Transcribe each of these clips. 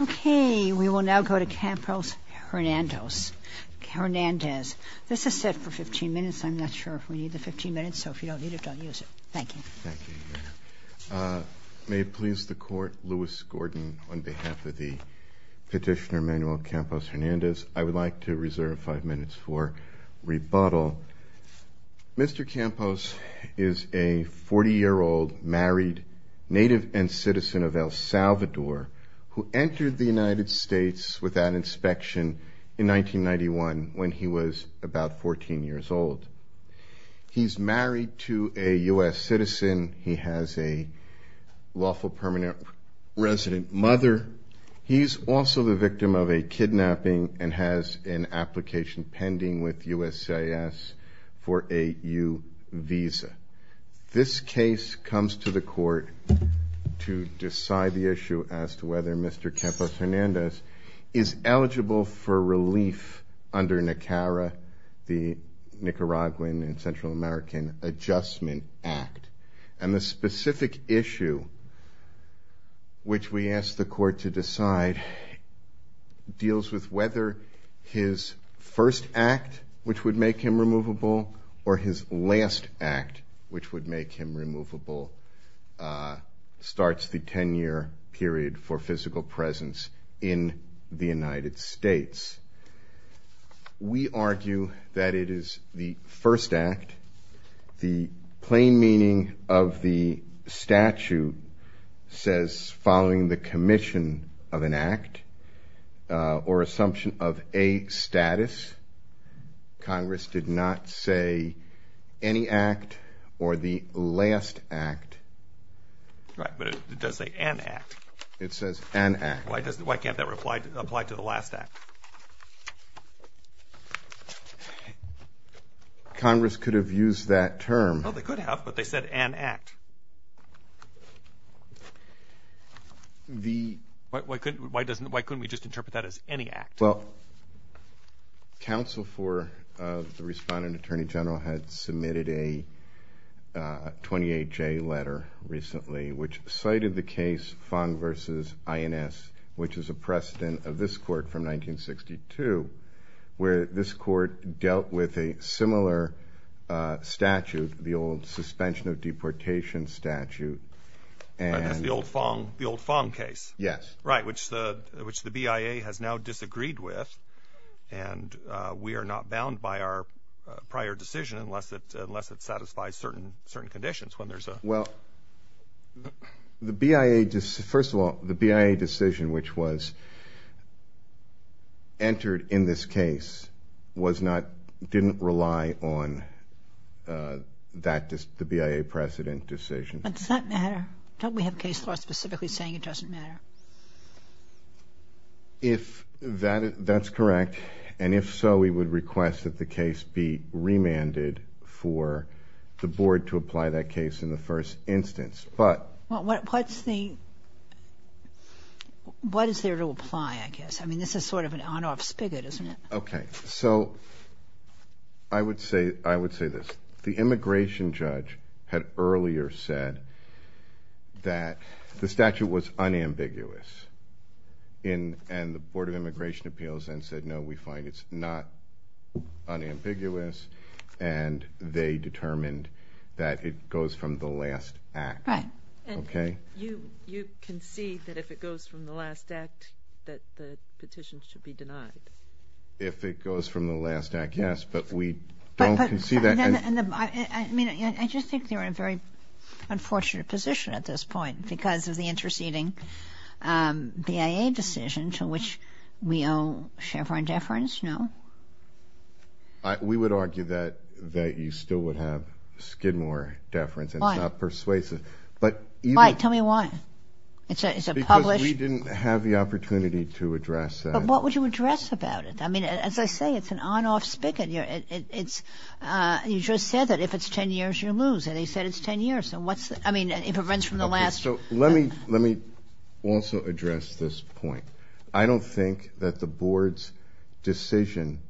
Okay, we will now go to Campos-Hernandez. This is set for 15 minutes. I'm not sure if we need the 15 minutes, so if you don't need it, don't use it. Thank you. May it please the Court, Louis Gordon on behalf of the petitioner Manuel Campos-Hernandez. I would like to reserve five minutes for rebuttal. Mr. Campos is a who entered the United States without inspection in 1991 when he was about 14 years old. He's married to a U.S. citizen. He has a lawful permanent resident mother. He's also the victim of a kidnapping and has an application pending with USCIS for a U visa. This case comes to the Court to decide the issue as to whether Mr. Campos-Hernandez is eligible for relief under NACARA, the Nicaraguan and Central American Adjustment Act. And the specific issue, which we asked the Court to decide, deals with whether his first act, which would make him removable, or his last act, which would make him removable, starts the 10-year period for physical presence in the United States. We argue that it is the first act. The plain meaning of the statute says following the commission of an act or assumption of a status. Congress did not say any act or the last act. Right, but it does say an act. It says an act. Why can't that apply to the last act? Congress could have used that term. Well, they could have, but they said an act. Why couldn't we just interpret that as any act? Well, counsel for the respondent attorney general had submitted a 28-J letter recently, which cited the case Fong v. INS, which is a precedent of this Court from 1962, where this Court dealt with a similar statute, the old suspension of deportation statute. That's the old Fong case. Yes. Right, which the BIA has now disagreed with, and we are not bound by our prior decision unless it satisfies certain conditions. Well, first of all, the BIA decision, which was entered in this case, didn't rely on the BIA precedent decision. But does that matter? Don't we have case law specifically saying it doesn't matter? That's correct, and if so, we would request that the case be remanded for the Board to apply that case in the first instance. What is there to apply, I guess? I mean, this is sort of an on-off spigot, isn't it? Okay, so I would say this. The immigration judge had earlier said that the statute was unambiguous, and the Board of Immigration Appeals then said, no, we find it's not unambiguous, and they determined that it goes from the last act. Right. Okay. You concede that if it goes from the last act, that the petition should be denied? If it goes from the last act, yes, but we don't concede that. I mean, I just think they're in a very unfortunate position at this point because of the interceding BIA decision to which we owe Chevron deference, no? We would argue that you still would have Skidmore deference, and it's not persuasive. Why? Tell me why. Because we didn't have the opportunity to address that. But what would you address about it? I mean, as I say, it's an on-off spigot. You just said that if it's 10 years, you lose, and they said it's 10 years. I mean, if it runs from the last... Let me also address this point. I don't think that the board's decision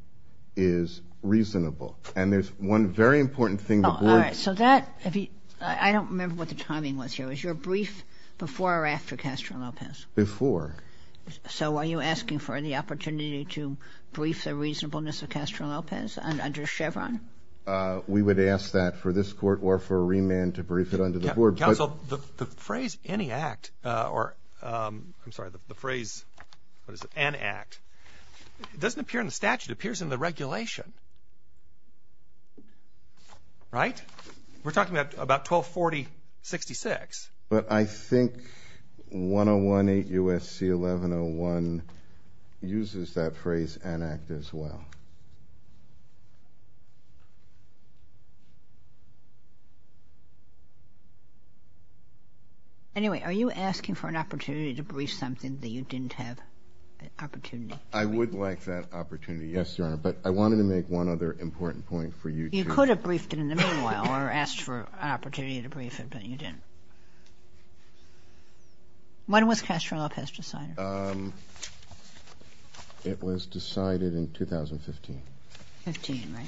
is reasonable, and there's one very important thing the board... All right. I don't remember what the timing was here. Was your brief before or after Castro-Lopez? Before. So are you asking for the opportunity to brief the reasonableness of Castro-Lopez under Chevron? We would ask that for this court or for a remand to brief it under the board. Counsel, the phrase any act, or I'm sorry, the phrase, what is it, an act, it doesn't appear in the statute. It appears in the regulation, right? We're talking about 1240-66. But I think 1018 U.S.C. 1101 uses that phrase, an act, as well. Anyway, are you asking for an opportunity to brief something that you didn't have an opportunity to brief? I would like that opportunity, yes, Your Honor, but I wanted to make one other important point for you to... You could have briefed it in the meanwhile or asked for an opportunity to brief it, and you didn't. When was Castro-Lopez decided? It was decided in 2015. 15, right.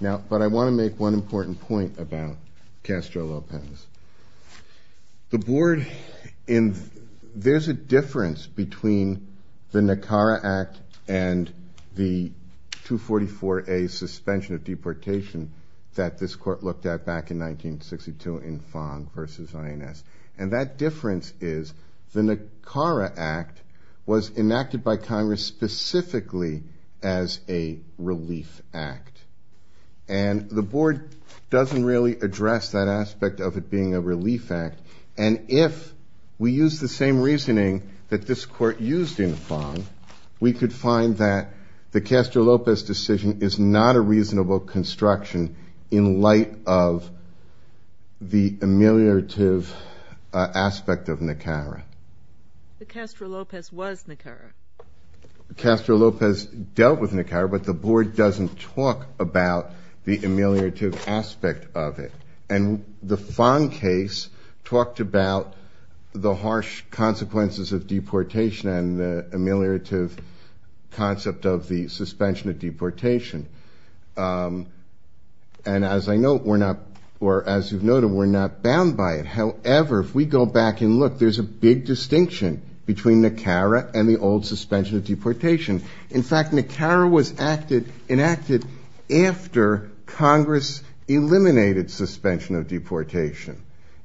Now, but I want to make one important point about Castro-Lopez. The board, there's a difference between the NACARA Act and the 244A suspension of deportation that this court looked at back in 1962 in Fong versus INS. And that difference is the NACARA Act was enacted by Congress specifically as a relief act. And the board doesn't really address that aspect of it being a relief act. And if we use the same reasoning that this court used in Fong, we could find that Castro-Lopez decision is not a reasonable construction in light of the ameliorative aspect of NACARA. But Castro-Lopez was NACARA. Castro-Lopez dealt with NACARA, but the board doesn't talk about the ameliorative aspect of it. And the Fong case talked about the harsh consequences of deportation and the ameliorative concept of the suspension of deportation. And as I know, we're not, or as you've noted, we're not bound by it. However, if we go back and look, there's a big distinction between NACARA and the old suspension of deportation. In fact, NACARA was enacted after Congress eliminated suspension of deportation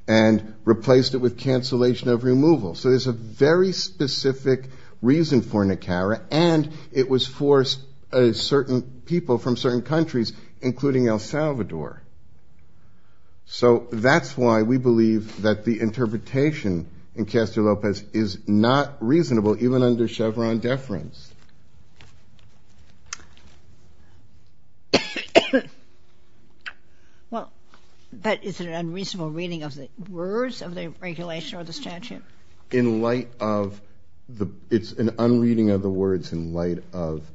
and replaced it with cancellation of removal. So there's a very specific reason for NACARA, and it was for a certain people from certain countries, including El Salvador. So that's why we believe that the interpretation in Castro-Lopez is not reasonable, even under Chevron deference. Well, that is an unreasonable reading of the words of the regulation or the statute. In light of the, it's an unreading of the words in light of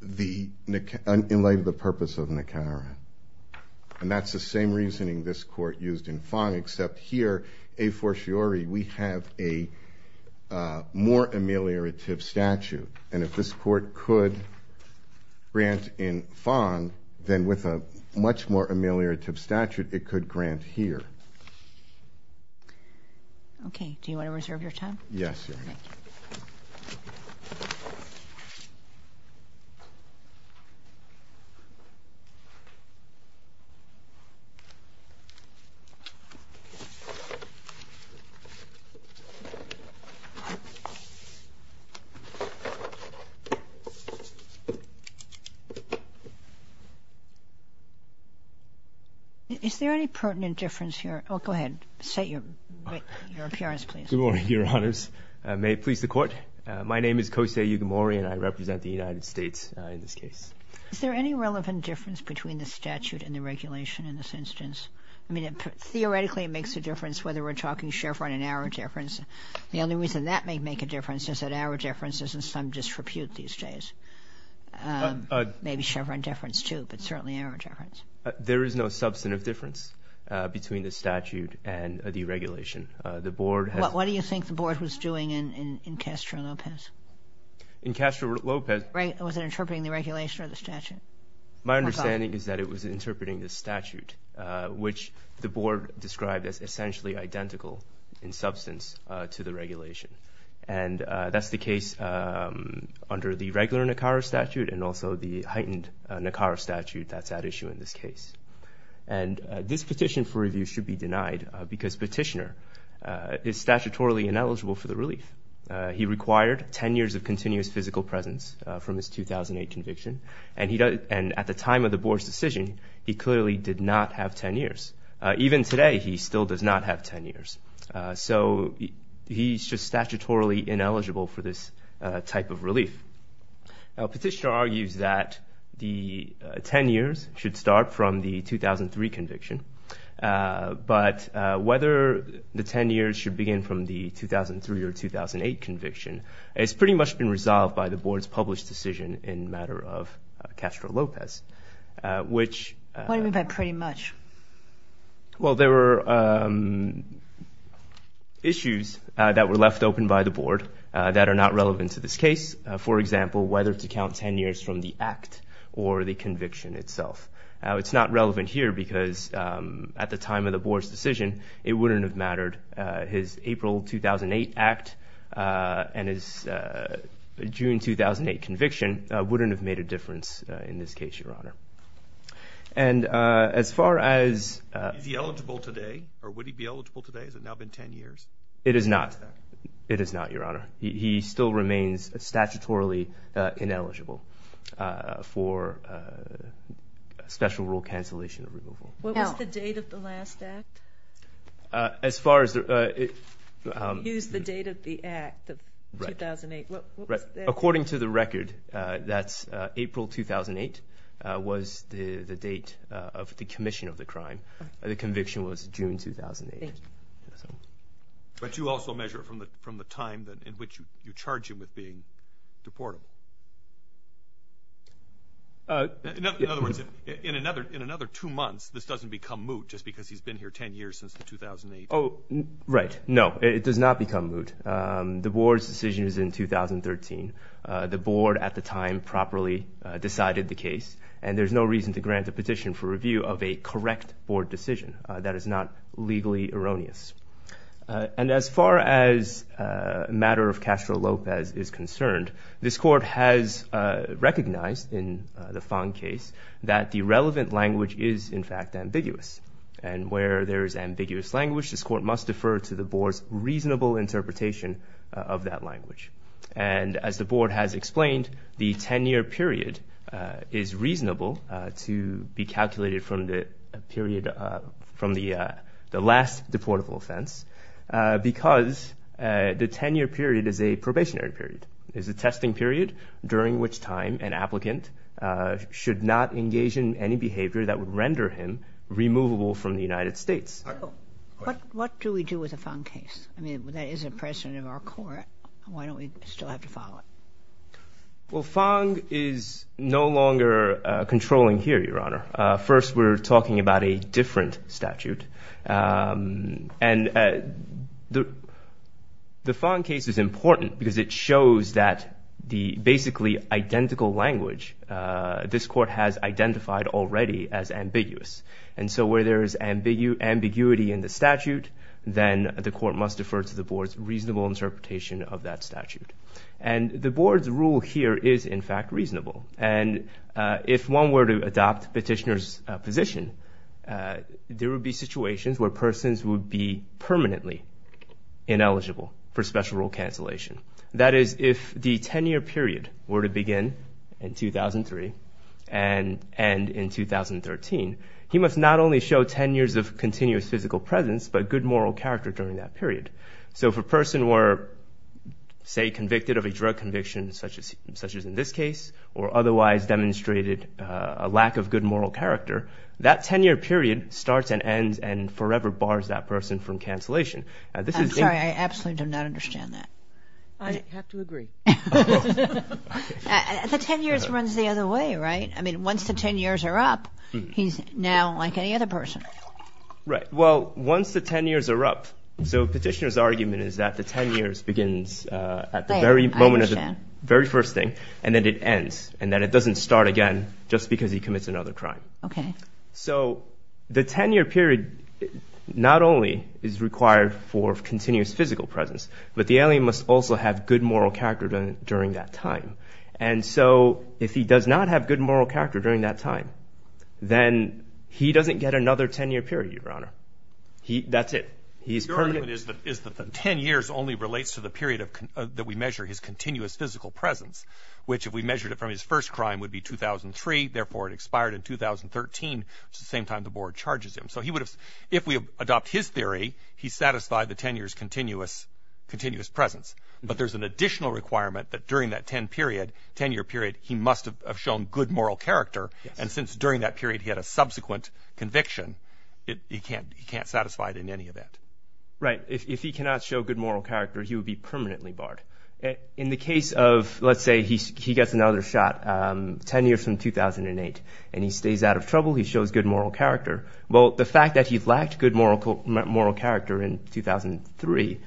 the, in light of the purpose of NACARA. And that's the same reasoning this court used in Fong, except here, a fortiori, we have a more ameliorative statute. And if this court could grant in Fong, then with a much more ameliorative statute, it could grant here. Okay. Do you want to reserve your time? Yes, Your Honor. Thank you. Is there any pertinent difference here? Oh, go ahead. State your appearance, please. Good morning, Your Honors. May it please the Court? My name is Kosei Yugimori, and I represent the United States in this case. Is there any relevant difference between the statute and the regulation in this instance? I mean, theoretically, it makes a difference whether we're talking Chevron and our difference. The only reason that may make a difference is that our difference is in some disrepute these days. Maybe Chevron deference, too, but certainly our difference. There is no substantive difference between the statute and the regulation. The Board has— What do you think the Board was doing in Castro-Lopez? In Castro-Lopez— Was it interpreting the regulation or the statute? My understanding is that it was interpreting the statute, which the Board described as essentially identical in substance to the regulation. And that's the case under the regular NACARA statute and also the heightened NACARA statute that's at issue in this case. And this petition for review should be denied because Petitioner is statutorily ineligible for the relief. He required 10 years of continuous physical presence from his 2008 conviction, and at the time of the Board's decision, he clearly did not have 10 years. Even today, he still does not have 10 years. So he's just statutorily ineligible for this type of relief. Petitioner argues that the 10 years should start from the 2003 conviction, but whether the 10 years should begin from the 2003 or 2008 conviction has pretty much been resolved by the Board's published decision in matter of Castro-Lopez, which— What do you mean by pretty much? Well, there were issues that were left open by the Board that are not relevant to this case, for example, whether to count 10 years from the act or the conviction itself. It's not relevant here because at the time of the Board's decision, it wouldn't have mattered. His April 2008 act and his June 2008 conviction wouldn't have made a difference in this case, Your Honor. And as far as— Is he eligible today? Or would he be eligible today? Has it now been 10 years? It is not. It is not, Your Honor. He still remains statutorily ineligible for special rule cancellation or removal. Now— What was the date of the last act? As far as— Use the date of the act of 2008. Right. According to the record, that's April 2008 was the date of the commission of the crime. The conviction was June 2008. But you also measure it from the time in which you charge him with being deportable. In other words, in another two months, this doesn't become moot just because he's been here 10 years since the 2008— Oh, right. No, it does not become moot. The Board's decision is in 2013. The Board at the time properly decided the case, and there's no reason to grant a petition for review of a correct Board decision. That is not legally erroneous. And as far as a matter of Castro-Lopez is concerned, this Court has recognized in the Fong case that the relevant language is, in fact, ambiguous. And where there is ambiguous language, this Court must defer to the Board's reasonable interpretation of that language. And as the Board has explained, the 10-year period is reasonable to be calculated from a period from the last deportable offense because the 10-year period is a probationary period. It's a testing period during which time an applicant should not engage in any behavior that would render him removable from the United States. What do we do with the Fong case? I mean, that is a precedent of our Court. Why don't we still have to follow it? Well, Fong is no longer controlling here, Your Honor. First, we're talking about a different statute. And the Fong case is important because it shows that the basically identical language this Court has identified already as ambiguous. And so where there is ambiguity in the statute, then the Court must defer to the Board's reasonable interpretation of that statute. And if one were to adopt Petitioner's position, there would be situations where persons would be permanently ineligible for special rule cancellation. That is, if the 10-year period were to begin in 2003 and end in 2013, he must not only show 10 years of continuous physical presence but good moral character during that period. So if a person were, say, convicted of a drug conviction, such as in this case, or otherwise demonstrated a lack of good moral character, that 10-year period starts and ends and forever bars that person from cancellation. I'm sorry. I absolutely do not understand that. I have to agree. The 10 years runs the other way, right? I mean, once the 10 years are up, he's now like any other person. Right. Once the 10 years are up, so Petitioner's argument is that the 10 years begins at the very moment of the very first thing, and then it ends, and then it doesn't start again just because he commits another crime. OK. So the 10-year period not only is required for continuous physical presence, but the alien must also have good moral character during that time. And so if he does not have good moral character during that time, then he doesn't get another 10-year period, Your Honor. That's it. His argument is that the 10 years only relates to the period that we measure his continuous physical presence, which if we measured it from his first crime would be 2003. Therefore, it expired in 2013, which is the same time the board charges him. So if we adopt his theory, he's satisfied the 10 years continuous presence. But there's an additional requirement that during that 10-year period, he must have shown good moral character. And since during that period he had a subsequent conviction, he can't satisfy it in any event. Right. If he cannot show good moral character, he would be permanently barred. In the case of, let's say, he gets another shot, 10 years from 2008, and he stays out of trouble, he shows good moral character. Well, the fact that he lacked good moral character in 2003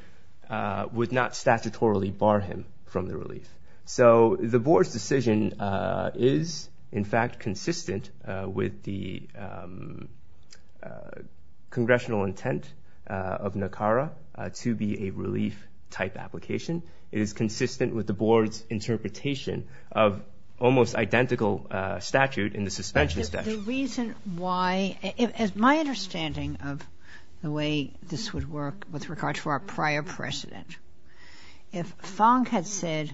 would not statutorily bar him from the relief. So the board's decision is, in fact, consistent with the congressional intent of NACARA to be a relief-type application. It is consistent with the board's interpretation of almost identical statute in the suspension statute. The reason why, as my understanding of the way this would work with regard to our prior precedent, if Fong had said,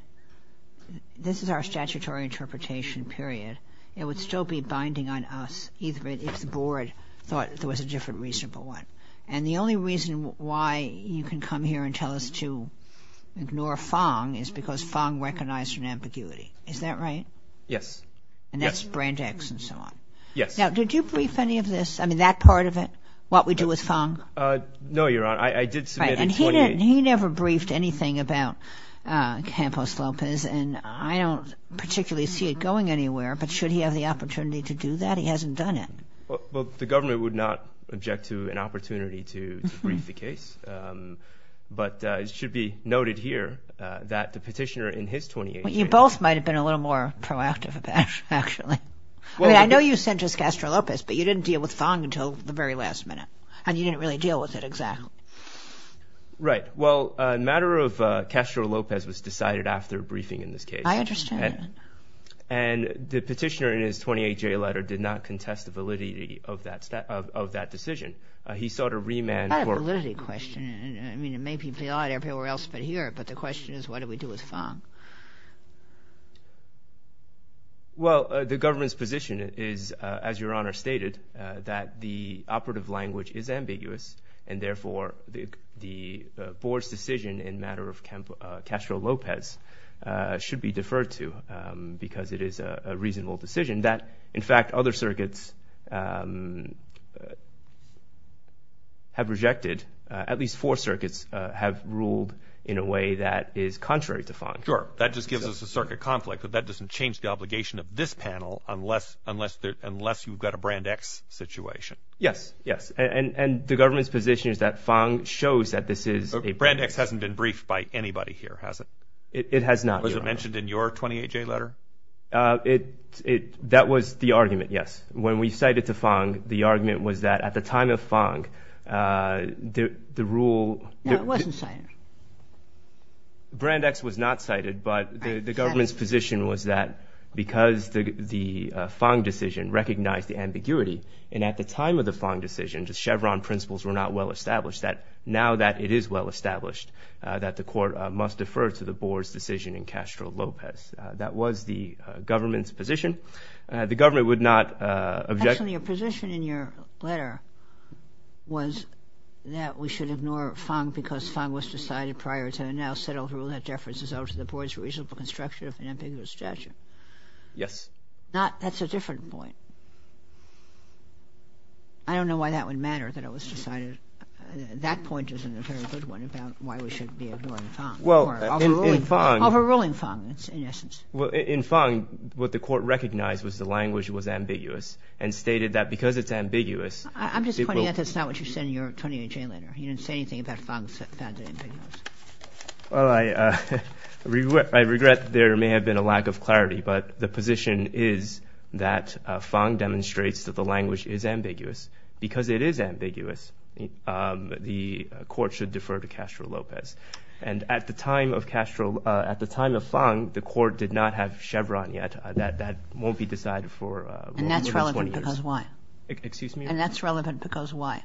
this is our statutory interpretation, period, it would still be binding on us, even if the board thought there was a different, reasonable one. And the only reason why you can come here and tell us to ignore Fong is because Fong recognized an ambiguity. Is that right? Yes. And that's brand X and so on. Yes. Now, did you brief any of this? I mean, that part of it, what we do with Fong? No, Your Honor. I did submit a 28. He never briefed anything about Campos-Lopez, and I don't particularly see it going anywhere. But should he have the opportunity to do that? He hasn't done it. Well, the government would not object to an opportunity to brief the case. But it should be noted here that the petitioner in his 28th. You both might have been a little more proactive about it, actually. I mean, I know you sent just Castro-Lopez, but you didn't deal with Fong until the very last minute, and you didn't really deal with it exactly. Right. Well, a matter of Castro-Lopez was decided after briefing in this case. I understand that. And the petitioner in his 28-J letter did not contest the validity of that decision. He sought a remand for- I have a validity question. I mean, it may be applied everywhere else but here. But the question is, what do we do with Fong? Well, the government's position is, as Your Honor stated, that the operative language is ambiguous, and therefore the board's decision in matter of Castro-Lopez should be deferred to because it is a reasonable decision that, in fact, other circuits have rejected. At least four circuits have ruled in a way that is contrary to Fong. Sure. That just gives us a circuit conflict. But that doesn't change the obligation of this panel unless you've got a Brand X situation. Yes. Yes. And the government's position is that Fong shows that this is a- Brand X hasn't been briefed by anybody here, has it? It has not, Your Honor. Was it mentioned in your 28-J letter? That was the argument, yes. When we cited to Fong, the argument was that at the time of Fong, the rule- No, it wasn't cited. Brand X was not cited, but the government's position was that because the Fong decision recognized the ambiguity, and at the time of the Fong decision, the Chevron principles were not well-established, that now that it is well-established, that the court must defer to the board's decision in Castro-Lopez. That was the government's position. The government would not object- Actually, your position in your letter was that we should ignore Fong because Fong was decided prior to the now settled rule that deferences over to the board's reasonable construction of an ambiguous judgment. Yes. That's a different point. I don't know why that would matter, that it was decided. That point isn't a very good one about why we should be ignoring Fong. Well, in Fong- Overruling Fong, in essence. Well, in Fong, what the court recognized was the language was ambiguous and stated that because it's ambiguous, people- I'm just pointing out that's not what you said in your 28-J letter. You didn't say anything about Fong's found it ambiguous. Well, I regret there may have been a lack of clarity, but the position is that Fong demonstrates that the language is ambiguous. Because it is ambiguous, the court should defer to Castro-Lopez. And at the time of Fong, the court did not have Chevron yet. That won't be decided for- And that's relevant because why? Excuse me? And that's relevant because why?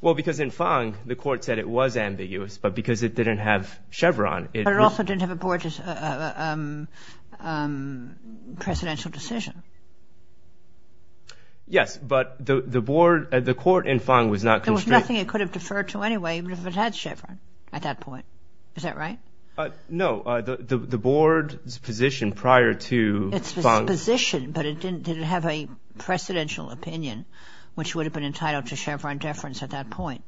Well, because in Fong, the court said it was ambiguous, but because it didn't have Chevron, it- But it also didn't have a presidential decision. Yes, but the court in Fong was not- There was nothing it could have deferred to anyway, even if it had Chevron at that point. Is that right? No, the board's position prior to Fong- It's the position, but it didn't have a presidential opinion, which would have been entitled to Chevron deference at that point.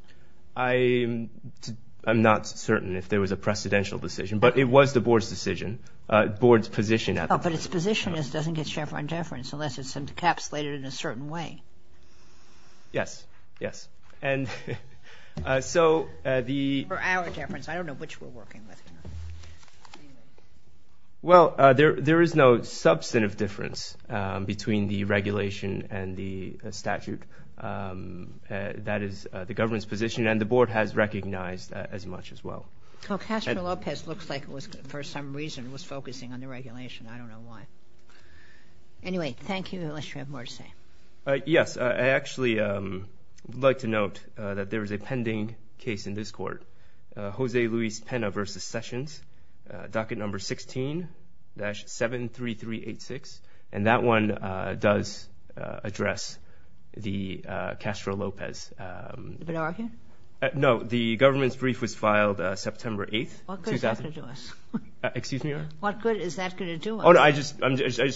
I'm not certain if there was a presidential decision, but it was the board's decision, board's position at the time. But its position is it doesn't get Chevron deference unless it's encapsulated in a certain way. Yes, yes. And so the- For our deference. I don't know which we're working with. Anyway. Well, there is no substantive difference between the regulation and the statute. That is the government's position, and the board has recognized that as much as well. Well, Castro Lopez looks like it was, for some reason, was focusing on the regulation. I don't know why. Anyway, thank you, unless you have more to say. Yes, I actually would like to note that there is a pending case in this court. Jose Luis Pena versus Sessions, docket number 16-73386. And that one does address the Castro Lopez. Have you been arguing? No. The government's brief was filed September 8th. What good is that going to do us? Excuse me, Your Honor? What good is that going to do us? Oh, no, I just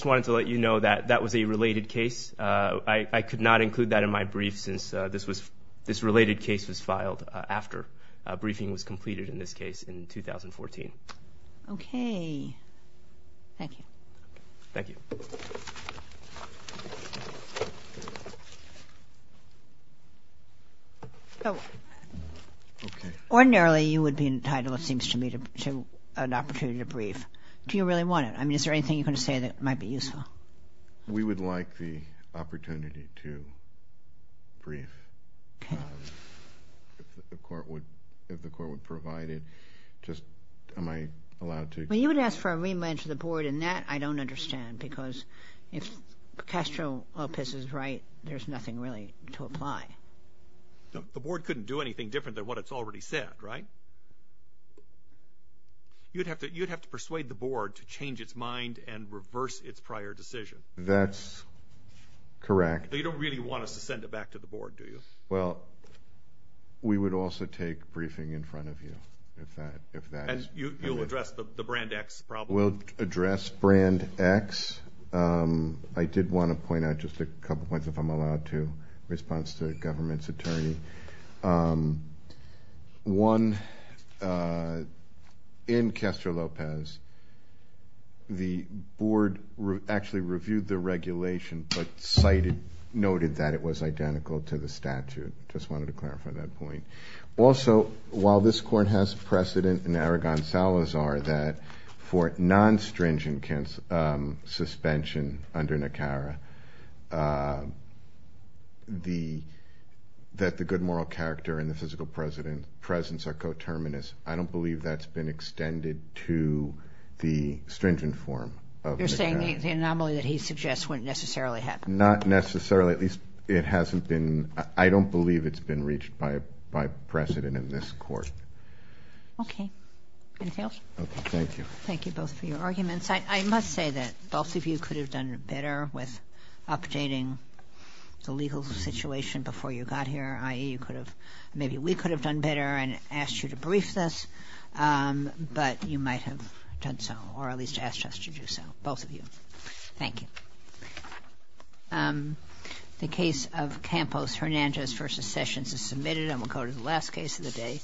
wanted to let you know that that was a related case. I could not include that in my brief since this related case was filed after briefing was completed in this case in 2014. Okay, thank you. Thank you. Ordinarily, you would be entitled, it seems to me, to an opportunity to brief. Do you really want it? I mean, is there anything you're going to say that might be useful? We would like the opportunity to brief. Okay. If the court would provide it, just am I allowed to? Well, you would ask for a rematch to the board, and that I don't understand, because if Castro Lopez is right, there's nothing really to apply. The board couldn't do anything different than what it's already said, right? You'd have to persuade the board to change its mind and reverse its prior decision. That's correct. You don't really want us to send it back to the board, do you? Well, we would also take briefing in front of you, if that is... You'll address the brand X problem? We'll address brand X. I did want to point out just a couple points, if I'm allowed to, in response to the government's attorney. One, in Castro Lopez, the board actually reviewed the regulation, but cited, noted that it was identical to the statute. Just wanted to clarify that point. Also, while this court has precedent in Aragon-Salazar, that for non-stringent suspension under NACARA, that the good moral character and the physical presence are coterminous. I don't believe that's been extended to the stringent form of NACARA. The anomaly that he suggests wouldn't necessarily happen? Not necessarily. At least, it hasn't been... I don't believe it's been reached by precedent in this court. Okay. Anything else? Okay. Thank you. Thank you both for your arguments. I must say that both of you could have done better with updating the legal situation before you got here, i.e., you could have... Maybe we could have done better and asked you to brief this, but you might have done so, or at least asked us to do so, both of you. Thank you. The case of Campos-Hernandez v. Sessions is submitted. I'm going to go to the last case of the day.